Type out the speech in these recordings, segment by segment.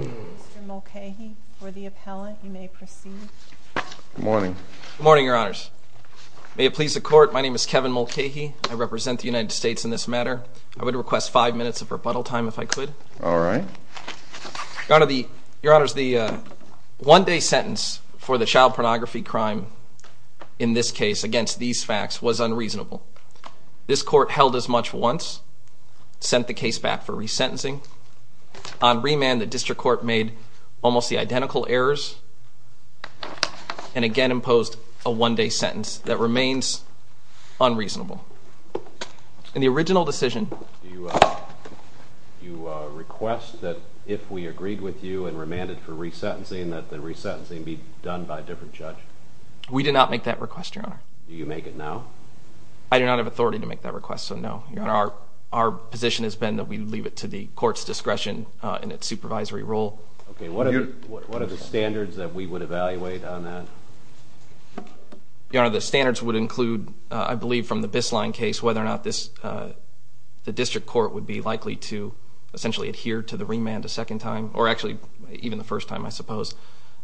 Mr. Mulcahy, for the appellant, you may proceed. Good morning. Good morning, Your Honors. May it please the Court, my name is Kevin Mulcahy. I represent the United States in this matter. I would request five minutes of rebuttal time, if I could. All right. Your Honors, the one-day sentence for the child pornography crime, in this case, against these facts, was unreasonable. This Court held as much once, sent the case back for resentencing. On remand, the District Court made almost the identical errors, and again imposed a one-day sentence that remains unreasonable. In the original decision... Do you request that if we agreed with you and remanded for resentencing, that the resentencing be done by a different judge? We did not make that request, Your Honor. Do you make it now? I do not have authority to make that request, so no. Your Honor, our position has been that we leave it to the Court's discretion in its supervisory role. Okay, what are the standards that we would evaluate on that? Your Honor, the standards would include, I believe from the Bisline case, whether or not the District Court would be likely to essentially adhere to the remand a second time, or actually even the first time, I suppose.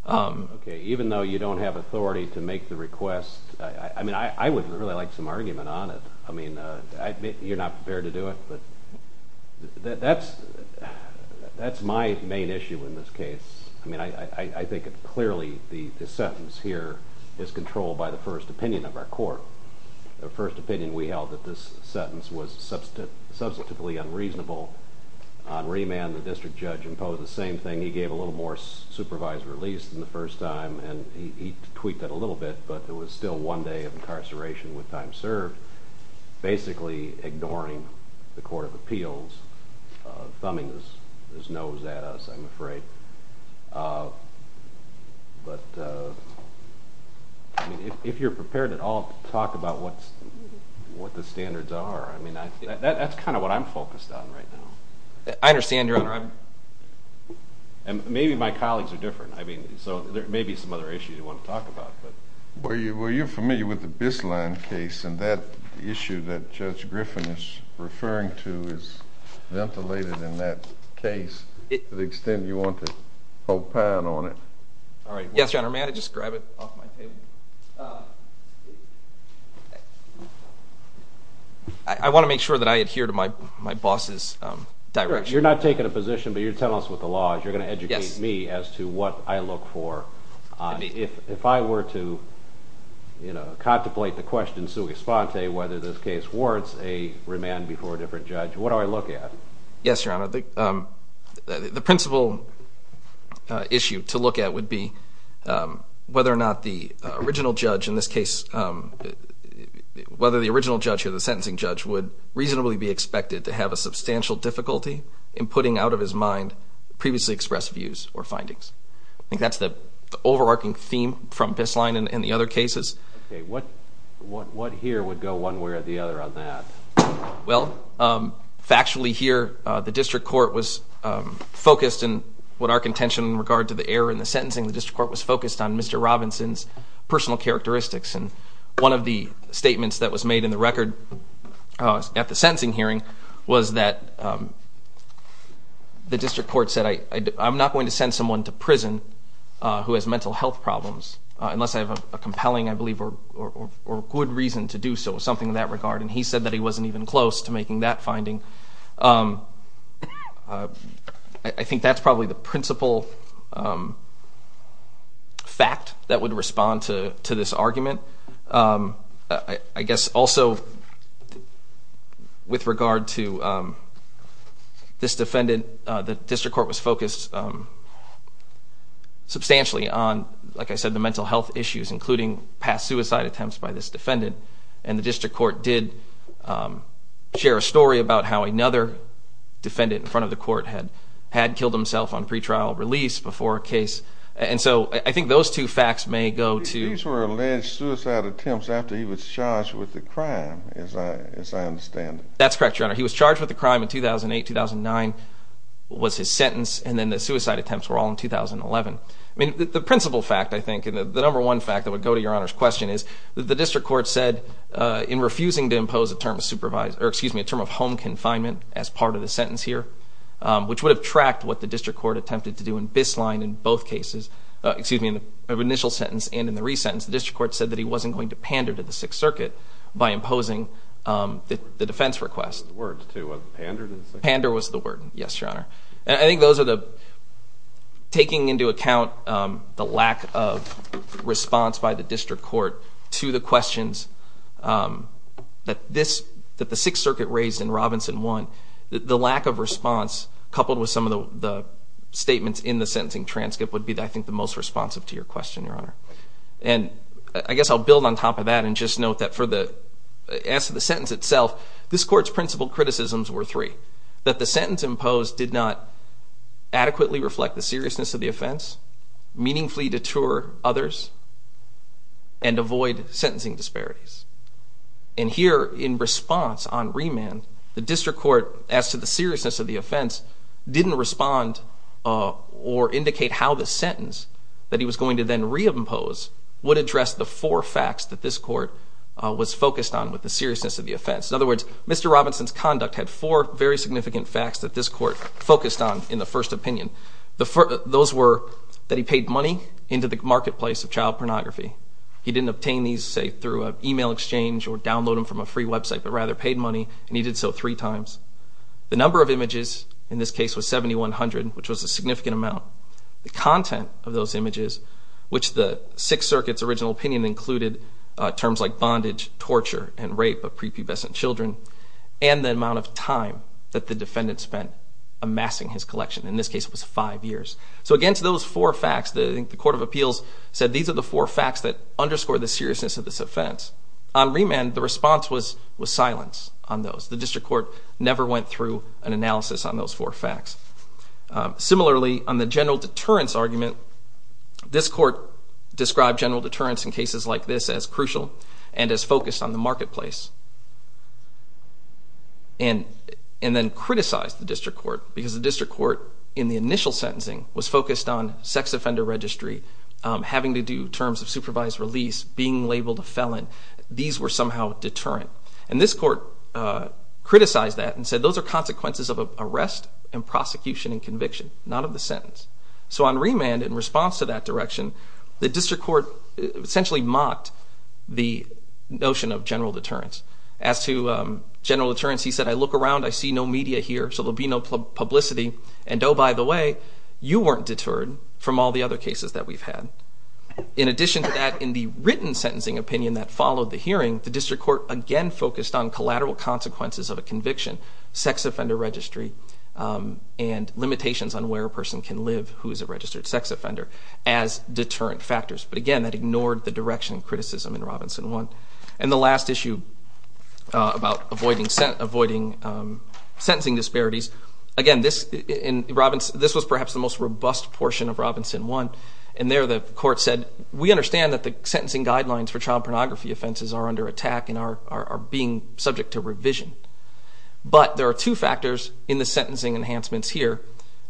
Okay, even though you don't have authority to make the request, I mean, I would really like some argument on it. I mean, you're not prepared to do it, but that's my main issue in this case. I mean, I think clearly the sentence here is controlled by the first opinion of our court. The first opinion we held that this sentence was substantively unreasonable. On remand, the District Judge imposed the same thing. He gave a little more supervised release than the first time, and he tweaked that a little bit, but it was still one day of incarceration with time served, basically ignoring the Court of Appeals, thumbing his nose at us, I'm afraid. But, I mean, if you're prepared at all to talk about what the standards are, I mean, that's kind of what I'm focused on right now. I understand, Your Honor. And maybe my colleagues are different, I mean, so there may be some other issues you want to talk about. Well, you're familiar with the Bisline case, and that issue that Judge Griffin is referring to is ventilated in that case to the extent you want to opine on it. Yes, Your Honor, may I just grab it off my table? I want to make sure that I adhere to my boss's direction. You're not taking a position, but you're telling us what the law is. You're going to educate me as to what I look for. If I were to contemplate the question sui sponte, whether this case warrants a remand before a different judge, what do I look at? Yes, Your Honor, the principal issue to look at would be whether or not the original judge in this case, whether the original judge or the sentencing judge would reasonably be expected to have a substantial difficulty in putting out of his mind previously expressed views or findings. I think that's the overarching theme from Bisline and the other cases. Okay, what here would go one way or the other on that? Well, factually here, the district court was focused in what our contention in regard to the error in the sentencing, the district court was focused on Mr. Robinson's personal characteristics. And one of the statements that was made in the record at the sentencing hearing was that the district court said, I'm not going to send someone to prison who has mental health problems unless I have a compelling, I believe, or good reason to do so, something in that regard. And he said that he wasn't even close to making that finding. I think that's probably the principal fact that would respond to this argument. I guess also with regard to this defendant, the district court was focused substantially on, like I said, the mental health issues, including past suicide attempts by this defendant. And the district court did share a story about how another defendant in front of the court had killed himself on pretrial release before a case. And so I think those two facts may go to... These were alleged suicide attempts after he was charged with the crime, as I understand it. That's correct, Your Honor. He was charged with the crime in 2008, 2009 was his sentence, and then the suicide attempts were all in 2011. I mean, the principal fact, I think, and the number one fact that would go to Your Honor's question is that the district court said, in refusing to impose a term of home confinement as part of the sentence here, which would have tracked what the district court attempted to do in Bisline in both cases, excuse me, in the initial sentence and in the re-sentence, the district court said that he wasn't going to pander to the Sixth Circuit by imposing the defense request. The word, too, was it pandered? Pander was the word, yes, Your Honor. And I think those are the... Taking into account the lack of response by the district court to the questions that the Sixth Circuit raised in Robinson 1, the lack of response, coupled with some of the statements in the sentencing transcript, would be, I think, the most responsive to your question, Your Honor. And I guess I'll build on top of that and just note that for the... As to the sentence itself, this court's principal criticisms were three. That the sentence imposed did not adequately reflect the seriousness of the offense, meaningfully deter others, and avoid sentencing disparities. And here, in response on remand, the district court, as to the seriousness of the offense, didn't respond or indicate how the sentence that he was going to then re-impose would address the four facts that this court was focused on with the seriousness of the offense. In other words, Mr. Robinson's conduct had four very significant facts that this court focused on in the first opinion. Those were that he paid money into the marketplace of child pornography. He didn't obtain these, say, through an email exchange or download them from a free website, but rather paid money, and he did so three times. The number of images in this case was 7,100, which was a significant amount. The content of those images, which the Sixth Circuit's original opinion included terms like bondage, torture, and rape of prepubescent children, and the amount of time that the defendant spent amassing his collection. In this case, it was five years. So against those four facts, I think the Court of Appeals said these are the four facts that underscore the seriousness of this offense. On remand, the response was silence on those. The district court never went through an analysis on those four facts. Similarly, on the general deterrence argument, this court described general deterrence in cases like this as crucial and as focused on the marketplace, and then criticized the district court because the district court, in the initial sentencing, was focused on sex offender registry, having to do terms of supervised release, being labeled a felon. These were somehow deterrent. And this court criticized that and said those are consequences of arrest and prosecution and conviction, not of the sentence. So on remand, in response to that direction, the district court essentially mocked the notion of general deterrence. As to general deterrence, he said, I look around, I see no media here, so there'll be no publicity, and oh, by the way, you weren't deterred from all the other cases that we've had. In addition to that, in the written sentencing opinion that followed the hearing, the district court again focused on collateral consequences of a conviction, sex offender registry, and limitations on where a person can live who is a registered sex offender as deterrent factors. But again, that ignored the direction and criticism in Robinson 1. And the last issue about avoiding sentencing disparities, again, this was perhaps the most robust portion of Robinson 1, and there the court said, we understand that the sentencing guidelines for child pornography offenses are under attack and are being subject to revision. But there are two factors in the sentencing enhancements here,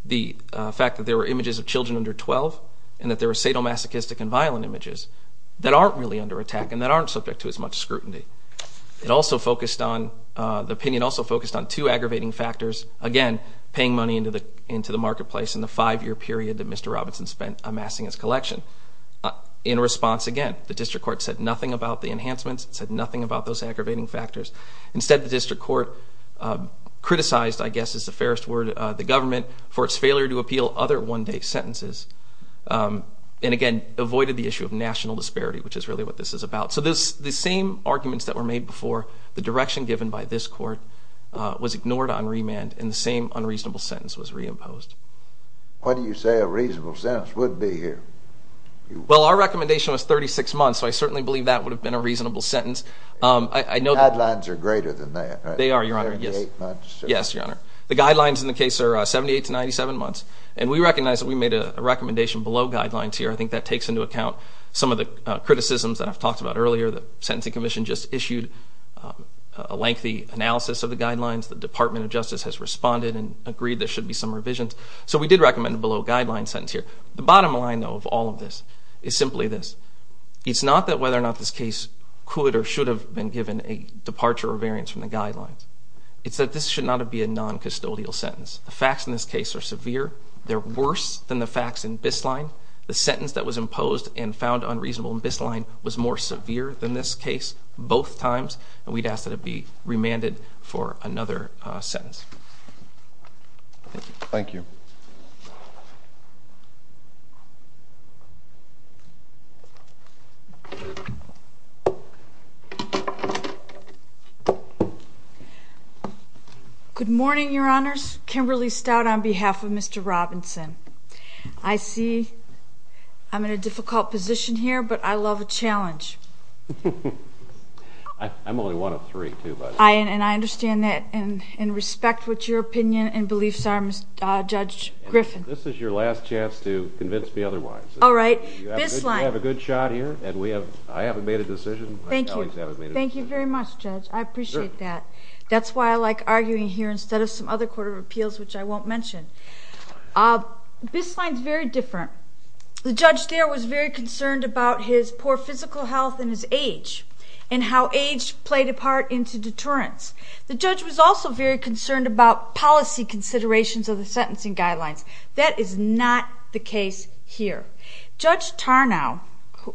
the fact that there were images of children under 12 and that there were sadomasochistic and violent images that aren't really under attack and that aren't subject to as much scrutiny. The opinion also focused on two aggravating factors, again, paying money into the marketplace In response, again, the district court said nothing about the enhancements, said nothing about those aggravating factors. Instead, the district court criticized, I guess is the fairest word, the government for its failure to appeal other one-day sentences and, again, avoided the issue of national disparity, which is really what this is about. So the same arguments that were made before, the direction given by this court was ignored on remand and the same unreasonable sentence was reimposed. What do you say a reasonable sentence would be here? Well, our recommendation was 36 months, so I certainly believe that would have been a reasonable sentence. Guidelines are greater than that, right? They are, Your Honor. 38 months? Yes, Your Honor. The guidelines in the case are 78 to 97 months and we recognize that we made a recommendation below guidelines here. I think that takes into account some of the criticisms that I've talked about earlier. The Sentencing Commission just issued a lengthy analysis of the guidelines. The Department of Justice has responded and agreed there should be some revisions. So we did recommend a below guidelines sentence here. The bottom line, though, of all of this is simply this. It's not that whether or not this case could or should have been given a departure or variance from the guidelines. It's that this should not be a non-custodial sentence. The facts in this case are severe. They're worse than the facts in Bisline. The sentence that was imposed and found unreasonable in Bisline was more severe than this case both times, and we'd ask that it be remanded for another sentence. Thank you. Thank you. Good morning, Your Honors. Kimberly Stout on behalf of Mr. Robinson. I see I'm in a difficult position here, but I love a challenge. I'm only one of three, too, by the way. And I understand that and respect what your opinion and beliefs are, Judge Griffin. This is your last chance to convince me otherwise. All right. Bisline. You have a good shot here, and I haven't made a decision. Thank you. My colleagues haven't made a decision. Thank you very much, Judge. I appreciate that. That's why I like arguing here instead of some other court of appeals, which I won't mention. Bisline's very different. The judge there was very concerned about his poor physical health and his age and how age played a part into deterrence. The judge was also very concerned about policy considerations of the sentencing guidelines. That is not the case here. Judge Tarnow,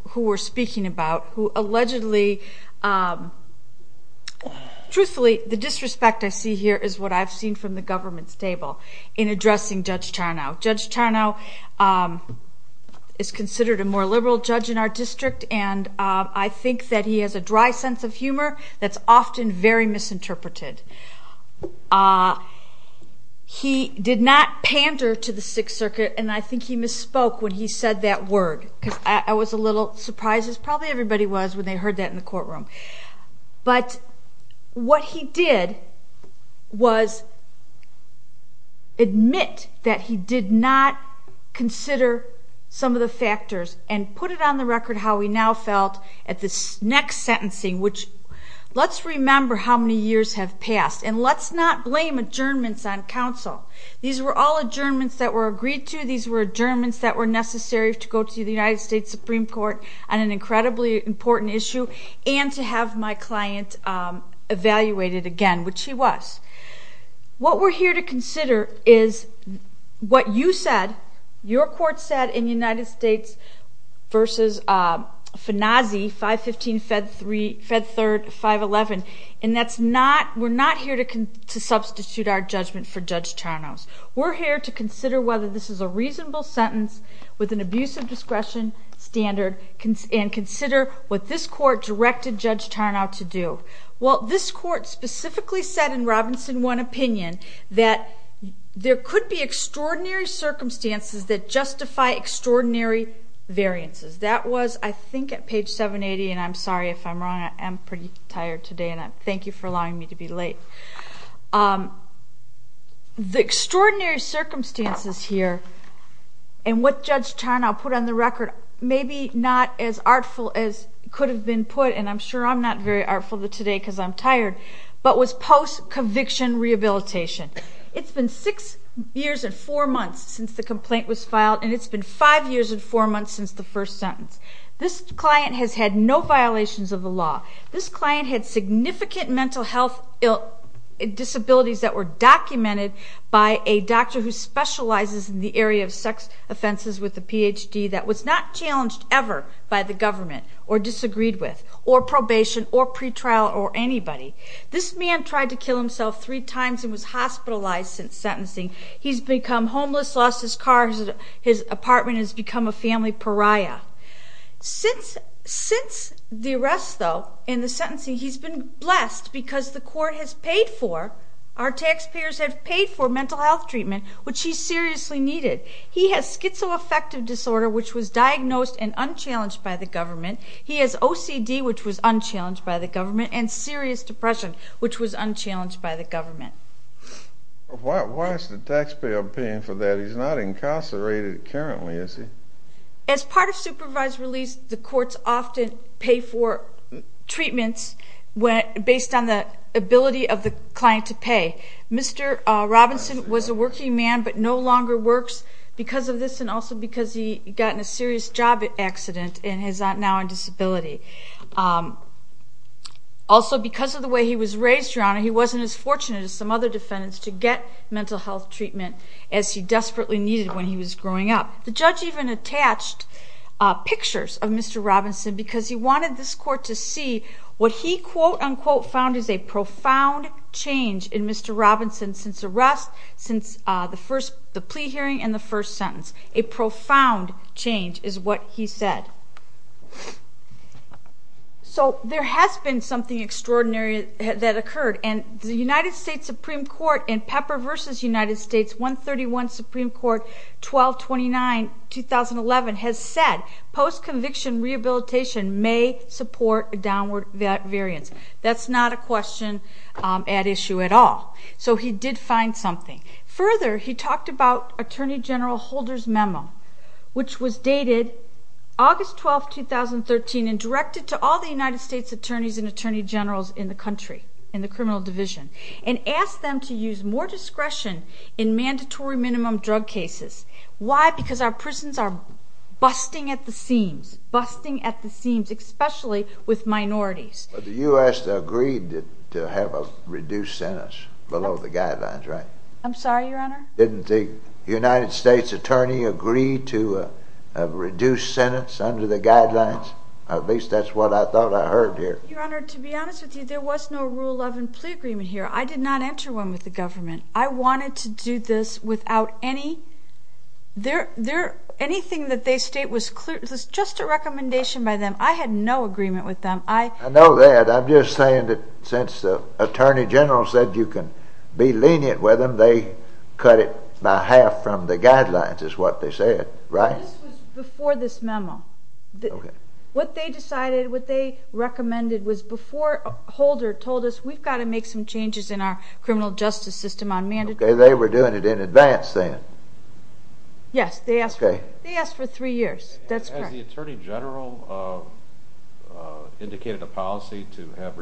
who we're speaking about, who allegedly – truthfully, the disrespect I see here is what I've seen from the government's table in addressing Judge Tarnow. Judge Tarnow is considered a more liberal judge in our district, and I think that he has a dry sense of humor that's often very misinterpreted. He did not pander to the Sixth Circuit, and I think he misspoke when he said that word because I was a little surprised, as probably everybody was, when they heard that in the courtroom. But what he did was admit that he did not consider some of the factors and put it on the record how he now felt at this next sentencing, which let's remember how many years have passed, and let's not blame adjournments on counsel. These were all adjournments that were agreed to. These were adjournments that were necessary to go to the United States Supreme Court on an incredibly important issue and to have my client evaluated again, which she was. What we're here to consider is what you said, your court said, in United States v. Fanazzi, 515 Fed 3rd, 511, and we're not here to substitute our judgment for Judge Tarnow's. We're here to consider whether this is a reasonable sentence with an abuse of discretion standard and consider what this court directed Judge Tarnow to do. Well, this court specifically said in Robinson 1 opinion that there could be extraordinary circumstances that justify extraordinary variances. That was, I think, at page 780, and I'm sorry if I'm wrong. I'm pretty tired today, and thank you for allowing me to be late. The extraordinary circumstances here and what Judge Tarnow put on the record were maybe not as artful as could have been put, and I'm sure I'm not very artful today because I'm tired, but was post-conviction rehabilitation. It's been 6 years and 4 months since the complaint was filed, and it's been 5 years and 4 months since the first sentence. This client has had no violations of the law. This client had significant mental health disabilities that were documented by a doctor who specializes in the area of sex offenses with a Ph.D. that was not challenged ever by the government or disagreed with or probation or pretrial or anybody. This man tried to kill himself 3 times and was hospitalized since sentencing. He's become homeless, lost his car, his apartment, and has become a family pariah. Since the arrest, though, and the sentencing, he's been blessed because the court has paid for, our taxpayers have paid for mental health treatment, which he seriously needed. He has schizoaffective disorder, which was diagnosed and unchallenged by the government. He has OCD, which was unchallenged by the government, and serious depression, which was unchallenged by the government. Why is the taxpayer paying for that? He's not incarcerated currently, is he? As part of supervised release, the courts often pay for treatments based on the ability of the client to pay. Mr. Robinson was a working man but no longer works because of this and also because he got in a serious job accident and is now on disability. Also, because of the way he was raised, Your Honor, he wasn't as fortunate as some other defendants to get mental health treatment as he desperately needed when he was growing up. The judge even attached pictures of Mr. Robinson because he wanted this court to see what he quote-unquote found as a profound change in Mr. Robinson since the plea hearing and the first sentence. A profound change is what he said. There has been something extraordinary that occurred, and the United States Supreme Court in Pepper v. United States 131 Supreme Court 1229-2011 has said post-conviction rehabilitation may support a downward variance. That's not a question at issue at all. So he did find something. Further, he talked about Attorney General Holder's memo, which was dated August 12, 2013, and directed to all the United States attorneys and attorney generals in the country, in the criminal division, and asked them to use more discretion in mandatory minimum drug cases. Why? Because our prisons are busting at the seams, especially with minorities. But the U.S. agreed to have a reduced sentence below the guidelines, right? I'm sorry, Your Honor? Didn't the United States attorney agree to a reduced sentence under the guidelines? At least that's what I thought I heard here. Your Honor, to be honest with you, there was no rule of plea agreement here. I did not enter one with the government. I wanted to do this without any... Anything that they state was just a recommendation by them. I had no agreement with them. I know that. I'm just saying that since the attorney general said you can be lenient with them, they cut it by half from the guidelines, is what they said, right? This was before this memo. What they decided, what they recommended, was before Holder told us, we've got to make some changes in our criminal justice system on mandatory... They were doing it in advance then. Yes, they asked for three years. That's correct. Has the attorney general indicated a policy to have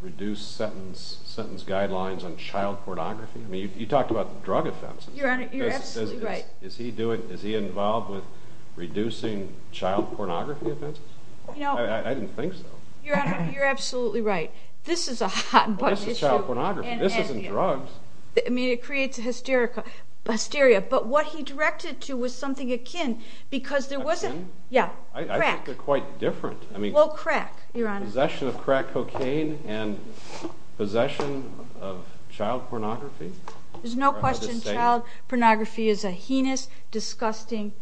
reduced sentence guidelines on child pornography? You talked about drug offenses. Your Honor, you're absolutely right. Is he involved with reducing child pornography offenses? I didn't think so. Your Honor, you're absolutely right. This is a hot-button issue. This isn't drugs. I mean, it creates hysteria. But what he directed to was something akin because there was a... Akin? Yeah, crack. I think they're quite different. Well, crack, Your Honor. Possession of crack cocaine and possession of child pornography? There's no question child pornography is a heinous, disgusting...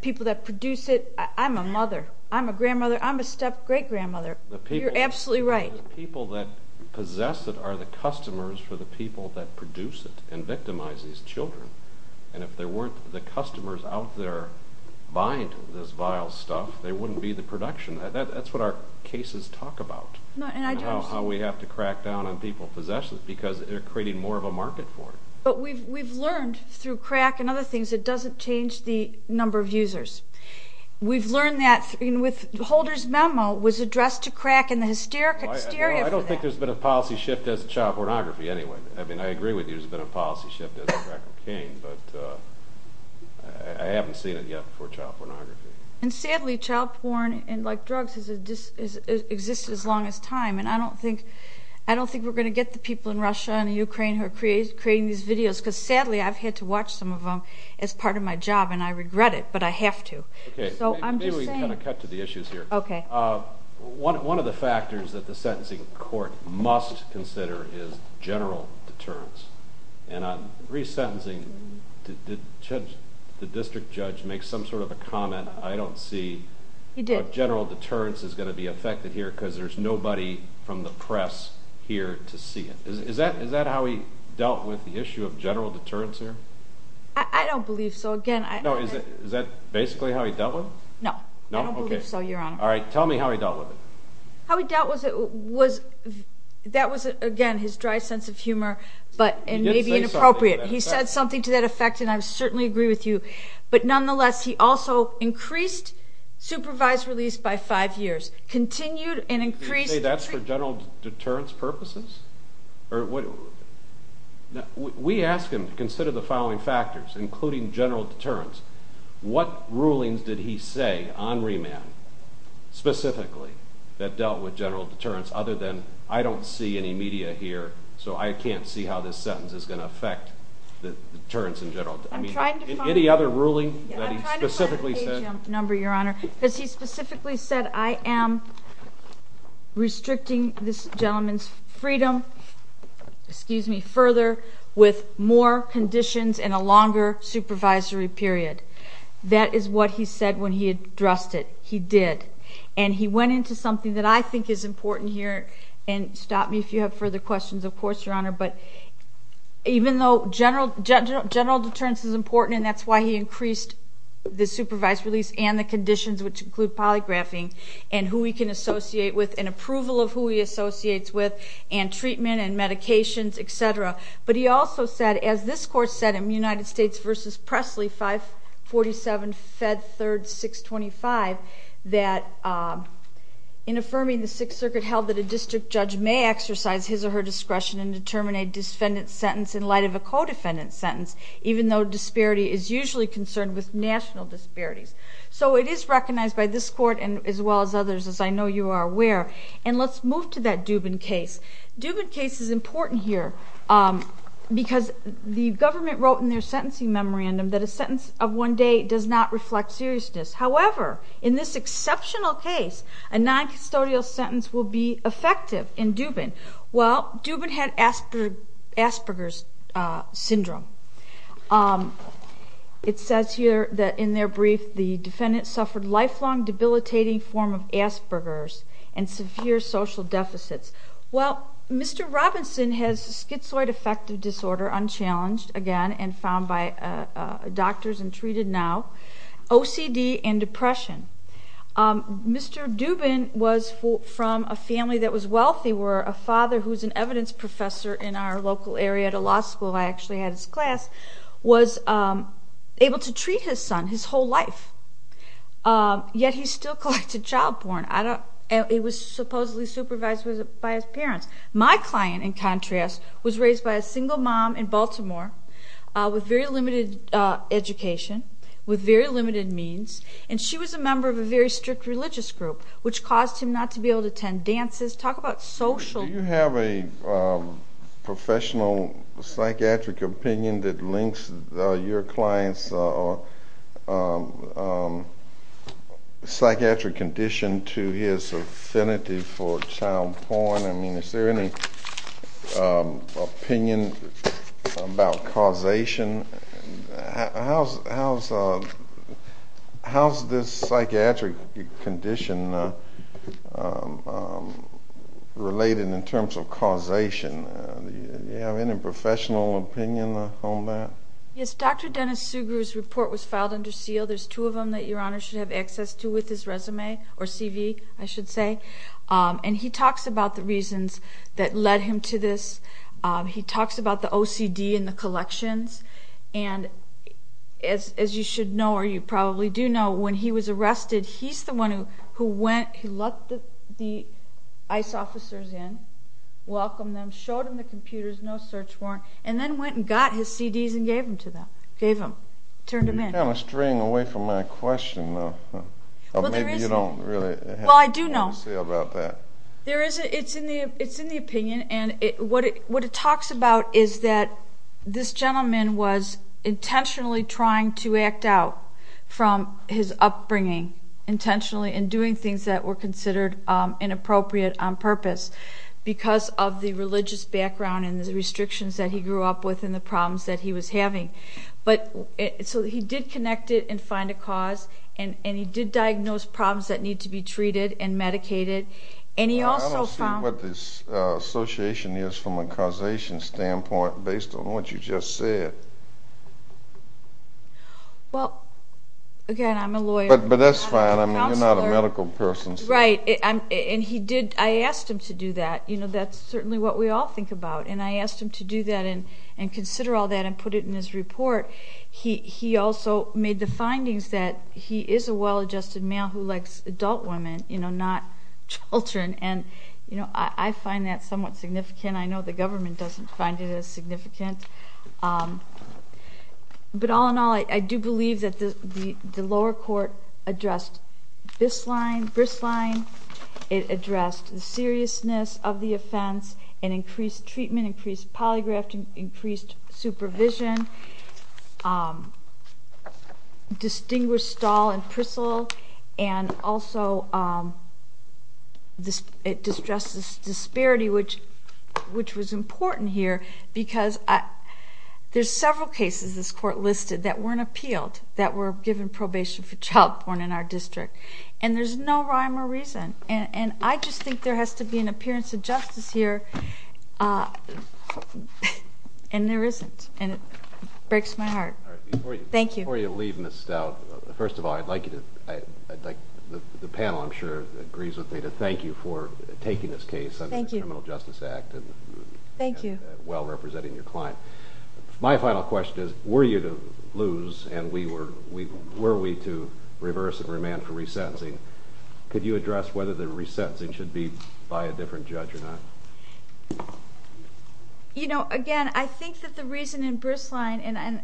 People that produce it. I'm a mother. I'm a grandmother. I'm a step-great-grandmother. You're absolutely right. The people that possess it are the customers for the people that produce it and victimize these children. And if there weren't the customers out there buying this vile stuff, they wouldn't be the production. That's what our cases talk about, how we have to crack down on people's possessions because they're creating more of a market for it. But we've learned through crack and other things it doesn't change the number of users. We've learned that with Holder's memo, it was addressed to crack and the hysteria for that. I don't think there's been a policy shift as to child pornography anyway. I agree with you there's been a policy shift as to crack cocaine, but I haven't seen it yet for child pornography. And sadly, child porn, like drugs, has existed as long as time, and I don't think we're going to get the people in Russia and Ukraine who are creating these videos because sadly I've had to watch some of them as part of my job, and I regret it, but I have to. Maybe we can cut to the issues here. One of the factors that the sentencing court must consider is general deterrence. And on re-sentencing, the district judge makes some sort of a comment, I don't see what general deterrence is going to be affected here because there's nobody from the press here to see it. Is that how he dealt with the issue of general deterrence here? I don't believe so. Is that basically how he dealt with it? No, I don't believe so, Your Honor. All right, tell me how he dealt with it. How he dealt with it was, that was, again, his dry sense of humor, and maybe inappropriate. He said something to that effect, and I certainly agree with you. But nonetheless, he also increased supervised release by five years, continued and increased... Did he say that's for general deterrence purposes? We ask him to consider the following factors, including general deterrence. What rulings did he say on remand, specifically, that dealt with general deterrence, other than, I don't see any media here, so I can't see how this sentence is going to affect deterrence in general? I'm trying to find... Any other ruling that he specifically said? I'm trying to find the page number, Your Honor, because he specifically said, I am restricting this gentleman's freedom, excuse me, further, with more conditions and a longer supervisory period. That is what he said when he addressed it. He did. And he went into something that I think is important here, and stop me if you have further questions, of course, Your Honor, but even though general deterrence is important, and that's why he increased the supervised release and the conditions, which include polygraphing, and who he can associate with, and approval of who he associates with, and treatment and medications, et cetera. But he also said, as this Court said in United States v. Presley, 547 Fed 3rd 625, that in affirming the Sixth Circuit held that a district judge may exercise his or her discretion and determine a defendant's sentence in light of a co-defendant's sentence, even though disparity is usually concerned with national disparities. So it is recognized by this Court as well as others, as I know you are aware. And let's move to that Dubin case. Dubin case is important here. Because the government wrote in their sentencing memorandum that a sentence of one day does not reflect seriousness. However, in this exceptional case, a noncustodial sentence will be effective in Dubin. Well, Dubin had Asperger's syndrome. It says here that in their brief, the defendant suffered lifelong debilitating form of Asperger's and severe social deficits. Well, Mr. Robinson has schizoid affective disorder, unchallenged again, and found by doctors and treated now. OCD and depression. Mr. Dubin was from a family that was wealthy, where a father who was an evidence professor in our local area at a law school, I actually had his class, was able to treat his son his whole life. Yet he still collected child porn. It was supposedly supervised by his parents. My client, in contrast, was raised by a single mom in Baltimore with very limited education, with very limited means, and she was a member of a very strict religious group, which caused him not to be able to attend dances. Talk about social... Do you have a professional psychiatric opinion that links your client's psychiatric condition to his affinity for child porn? I mean, is there any opinion about causation? How is this psychiatric condition related in terms of causation? Do you have any professional opinion on that? Yes, Dr. Dennis Sugrue's report was filed under seal. There's two of them that Your Honor should have access to with his resume, or CV, I should say. And he talks about the reasons that led him to this. He talks about the OCD and the collections. And as you should know, or you probably do know, when he was arrested, he's the one who went, he let the ICE officers in, welcomed them, showed them the computers, no search warrant, and then went and got his CDs and gave them to them, gave them, turned them in. You're kind of straying away from my question, though. Maybe you don't really have anything to say about that. Well, I do know. It's in the opinion, and what it talks about is that this gentleman was intentionally trying to act out from his upbringing, intentionally in doing things that were considered inappropriate on purpose because of the religious background and the restrictions that he grew up with and the problems that he was having. So he did connect it and find a cause, and he did diagnose problems that need to be treated and medicated. I don't see what this association is from a causation standpoint based on what you just said. Well, again, I'm a lawyer. But that's fine. You're not a medical person. Right, and I asked him to do that. That's certainly what we all think about, and I asked him to do that and consider all that and put it in his report. He also made the findings that he is a well-adjusted male who likes adult women, not children, and I find that somewhat significant. I know the government doesn't find it as significant. But all in all, I do believe that the lower court addressed this line, this line. It addressed the seriousness of the offense and increased treatment, increased polygraphing, increased supervision, distinguished stall and pristle, and also it addressed this disparity, which was important here because there's several cases this court listed that weren't appealed, that were given probation for child born in our district, and there's no rhyme or reason. And I just think there has to be an appearance of justice here, and there isn't. And it breaks my heart. Thank you. Before you leave, Ms. Stout, first of all, I'd like the panel, I'm sure, agrees with me, to thank you for taking this case under the Criminal Justice Act and well representing your client. My final question is, were you to lose and were we to reverse and remand for resentencing, could you address whether the resentencing should be by a different judge or not? You know, again, I think that the reason in Bristline, and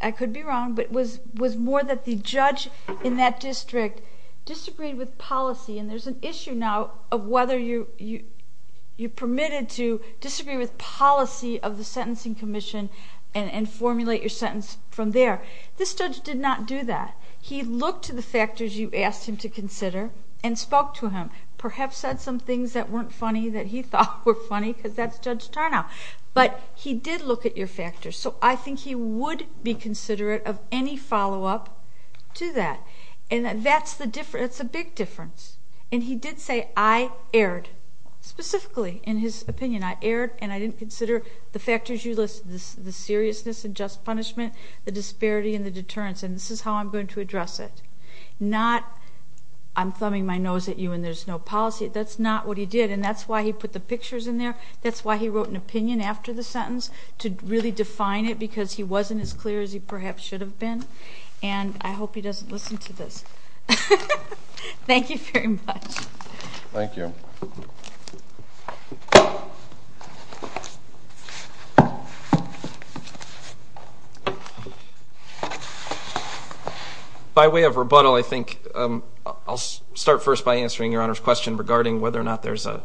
I could be wrong, but it was more that the judge in that district disagreed with policy, and there's an issue now of whether you're permitted to disagree with policy of the Sentencing Commission and formulate your sentence from there. This judge did not do that. He looked to the factors you asked him to consider and spoke to him, perhaps said some things that weren't funny that he thought were funny because that's Judge Tarnow. But he did look at your factors, so I think he would be considerate of any follow-up to that. And that's a big difference. And he did say, I erred, specifically, in his opinion. I erred and I didn't consider the factors you listed, the seriousness and just punishment, the disparity and the deterrence, and this is how I'm going to address it. Not, I'm thumbing my nose at you and there's no policy. That's not what he did, and that's why he put the pictures in there. That's why he wrote an opinion after the sentence to really define it because he wasn't as clear as he perhaps should have been. And I hope he doesn't listen to this. Thank you very much. Thank you. By way of rebuttal, I think I'll start first by answering Your Honor's question regarding whether or not there's a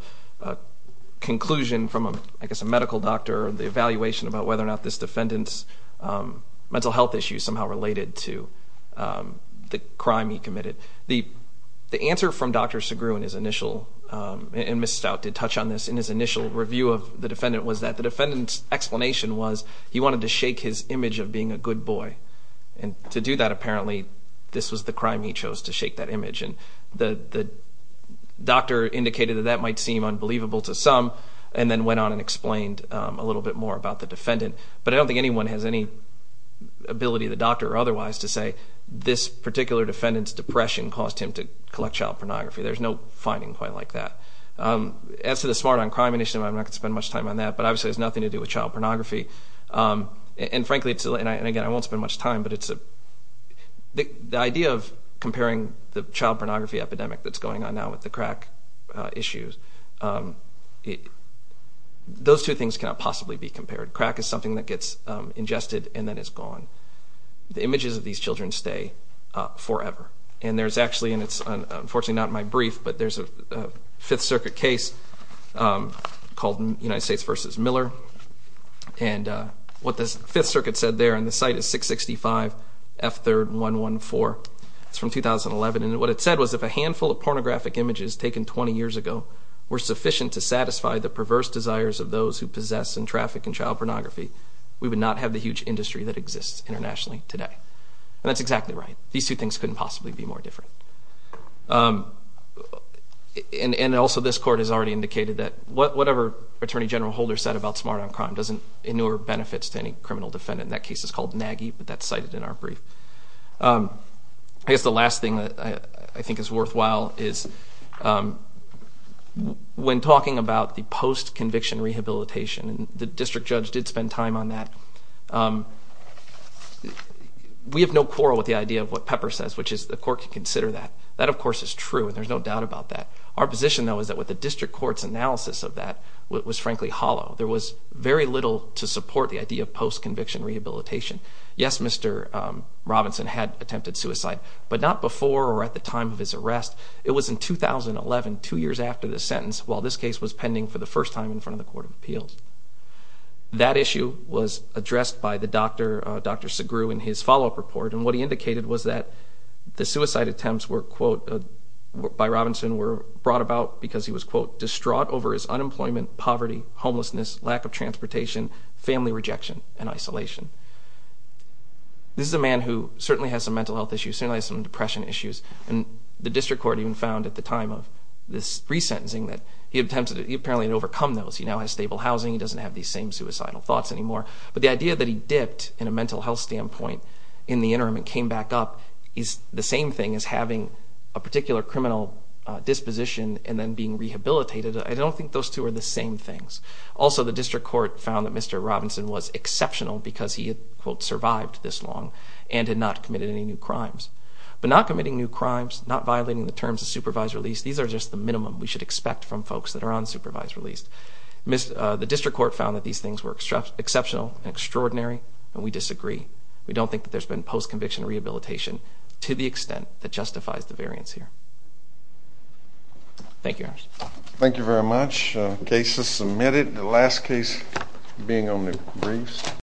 conclusion from, I guess, a medical doctor, the evaluation about whether or not this defendant's mental health issue somehow related to the crime he committed. The answer from Dr. Segru in his initial, and Ms. Stout did touch on this in his initial review of the defendant, was that the defendant's explanation was he wanted to shake his image of being a good boy. And to do that, apparently, this was the crime he chose, to shake that image. And the doctor indicated that that might seem unbelievable to some and then went on and explained a little bit more about the defendant. But I don't think anyone has any ability, the doctor or otherwise, to say this particular defendant's depression caused him to collect child pornography. There's no finding quite like that. As to the Smart on Crime initiative, I'm not going to spend much time on that, but obviously it has nothing to do with child pornography. And frankly, and again, I won't spend much time, but the idea of comparing the child pornography epidemic that's going on now with the crack issues, those two things cannot possibly be compared. Crack is something that gets ingested and then it's gone. The images of these children stay forever. And there's actually, and it's unfortunately not in my brief, but there's a Fifth Circuit case called United States v. Miller. And what the Fifth Circuit said there, and the site is 665F3114. It's from 2011. And what it said was if a handful of pornographic images taken 20 years ago were sufficient to satisfy the perverse desires of those who possess and traffic in child pornography, we would not have the huge industry that exists internationally today. And that's exactly right. These two things couldn't possibly be more different. And also this Court has already indicated that whatever Attorney General Holder said about Smart on Crime doesn't inure benefits to any criminal defendant. That case is called Nagy, but that's cited in our brief. I guess the last thing that I think is worthwhile is when talking about the post-conviction rehabilitation, and the district judge did spend time on that, we have no quarrel with the idea of what Pepper says, which is the Court can consider that. That, of course, is true, and there's no doubt about that. Our position, though, is that with the district court's analysis of that was frankly hollow. There was very little to support the idea of post-conviction rehabilitation. Yes, Mr. Robinson had attempted suicide, but not before or at the time of his arrest. It was in 2011, two years after the sentence, while this case was pending for the first time in front of the Court of Appeals. That issue was addressed by Dr. Segru in his follow-up report, and what he indicated was that the suicide attempts by Robinson were brought about because he was distraught over his unemployment, poverty, homelessness, lack of transportation, family rejection, and isolation. This is a man who certainly has some mental health issues, certainly has some depression issues, and the district court even found at the time of this resentencing that he apparently had overcome those. He now has stable housing. He doesn't have these same suicidal thoughts anymore, but the idea that he dipped in a mental health standpoint in the interim and came back up is the same thing as having a particular criminal disposition and then being rehabilitated. I don't think those two are the same things. Also, the district court found that Mr. Robinson was exceptional because he had, quote, survived this long and had not committed any new crimes. But not committing new crimes, not violating the terms of supervised release, these are just the minimum we should expect from folks that are unsupervised released. The district court found that these things were exceptional and extraordinary, and we disagree. We don't think that there's been post-conviction rehabilitation to the extent that justifies the variance here. Thank you. Thank you very much. Cases submitted. The last case being on the briefs.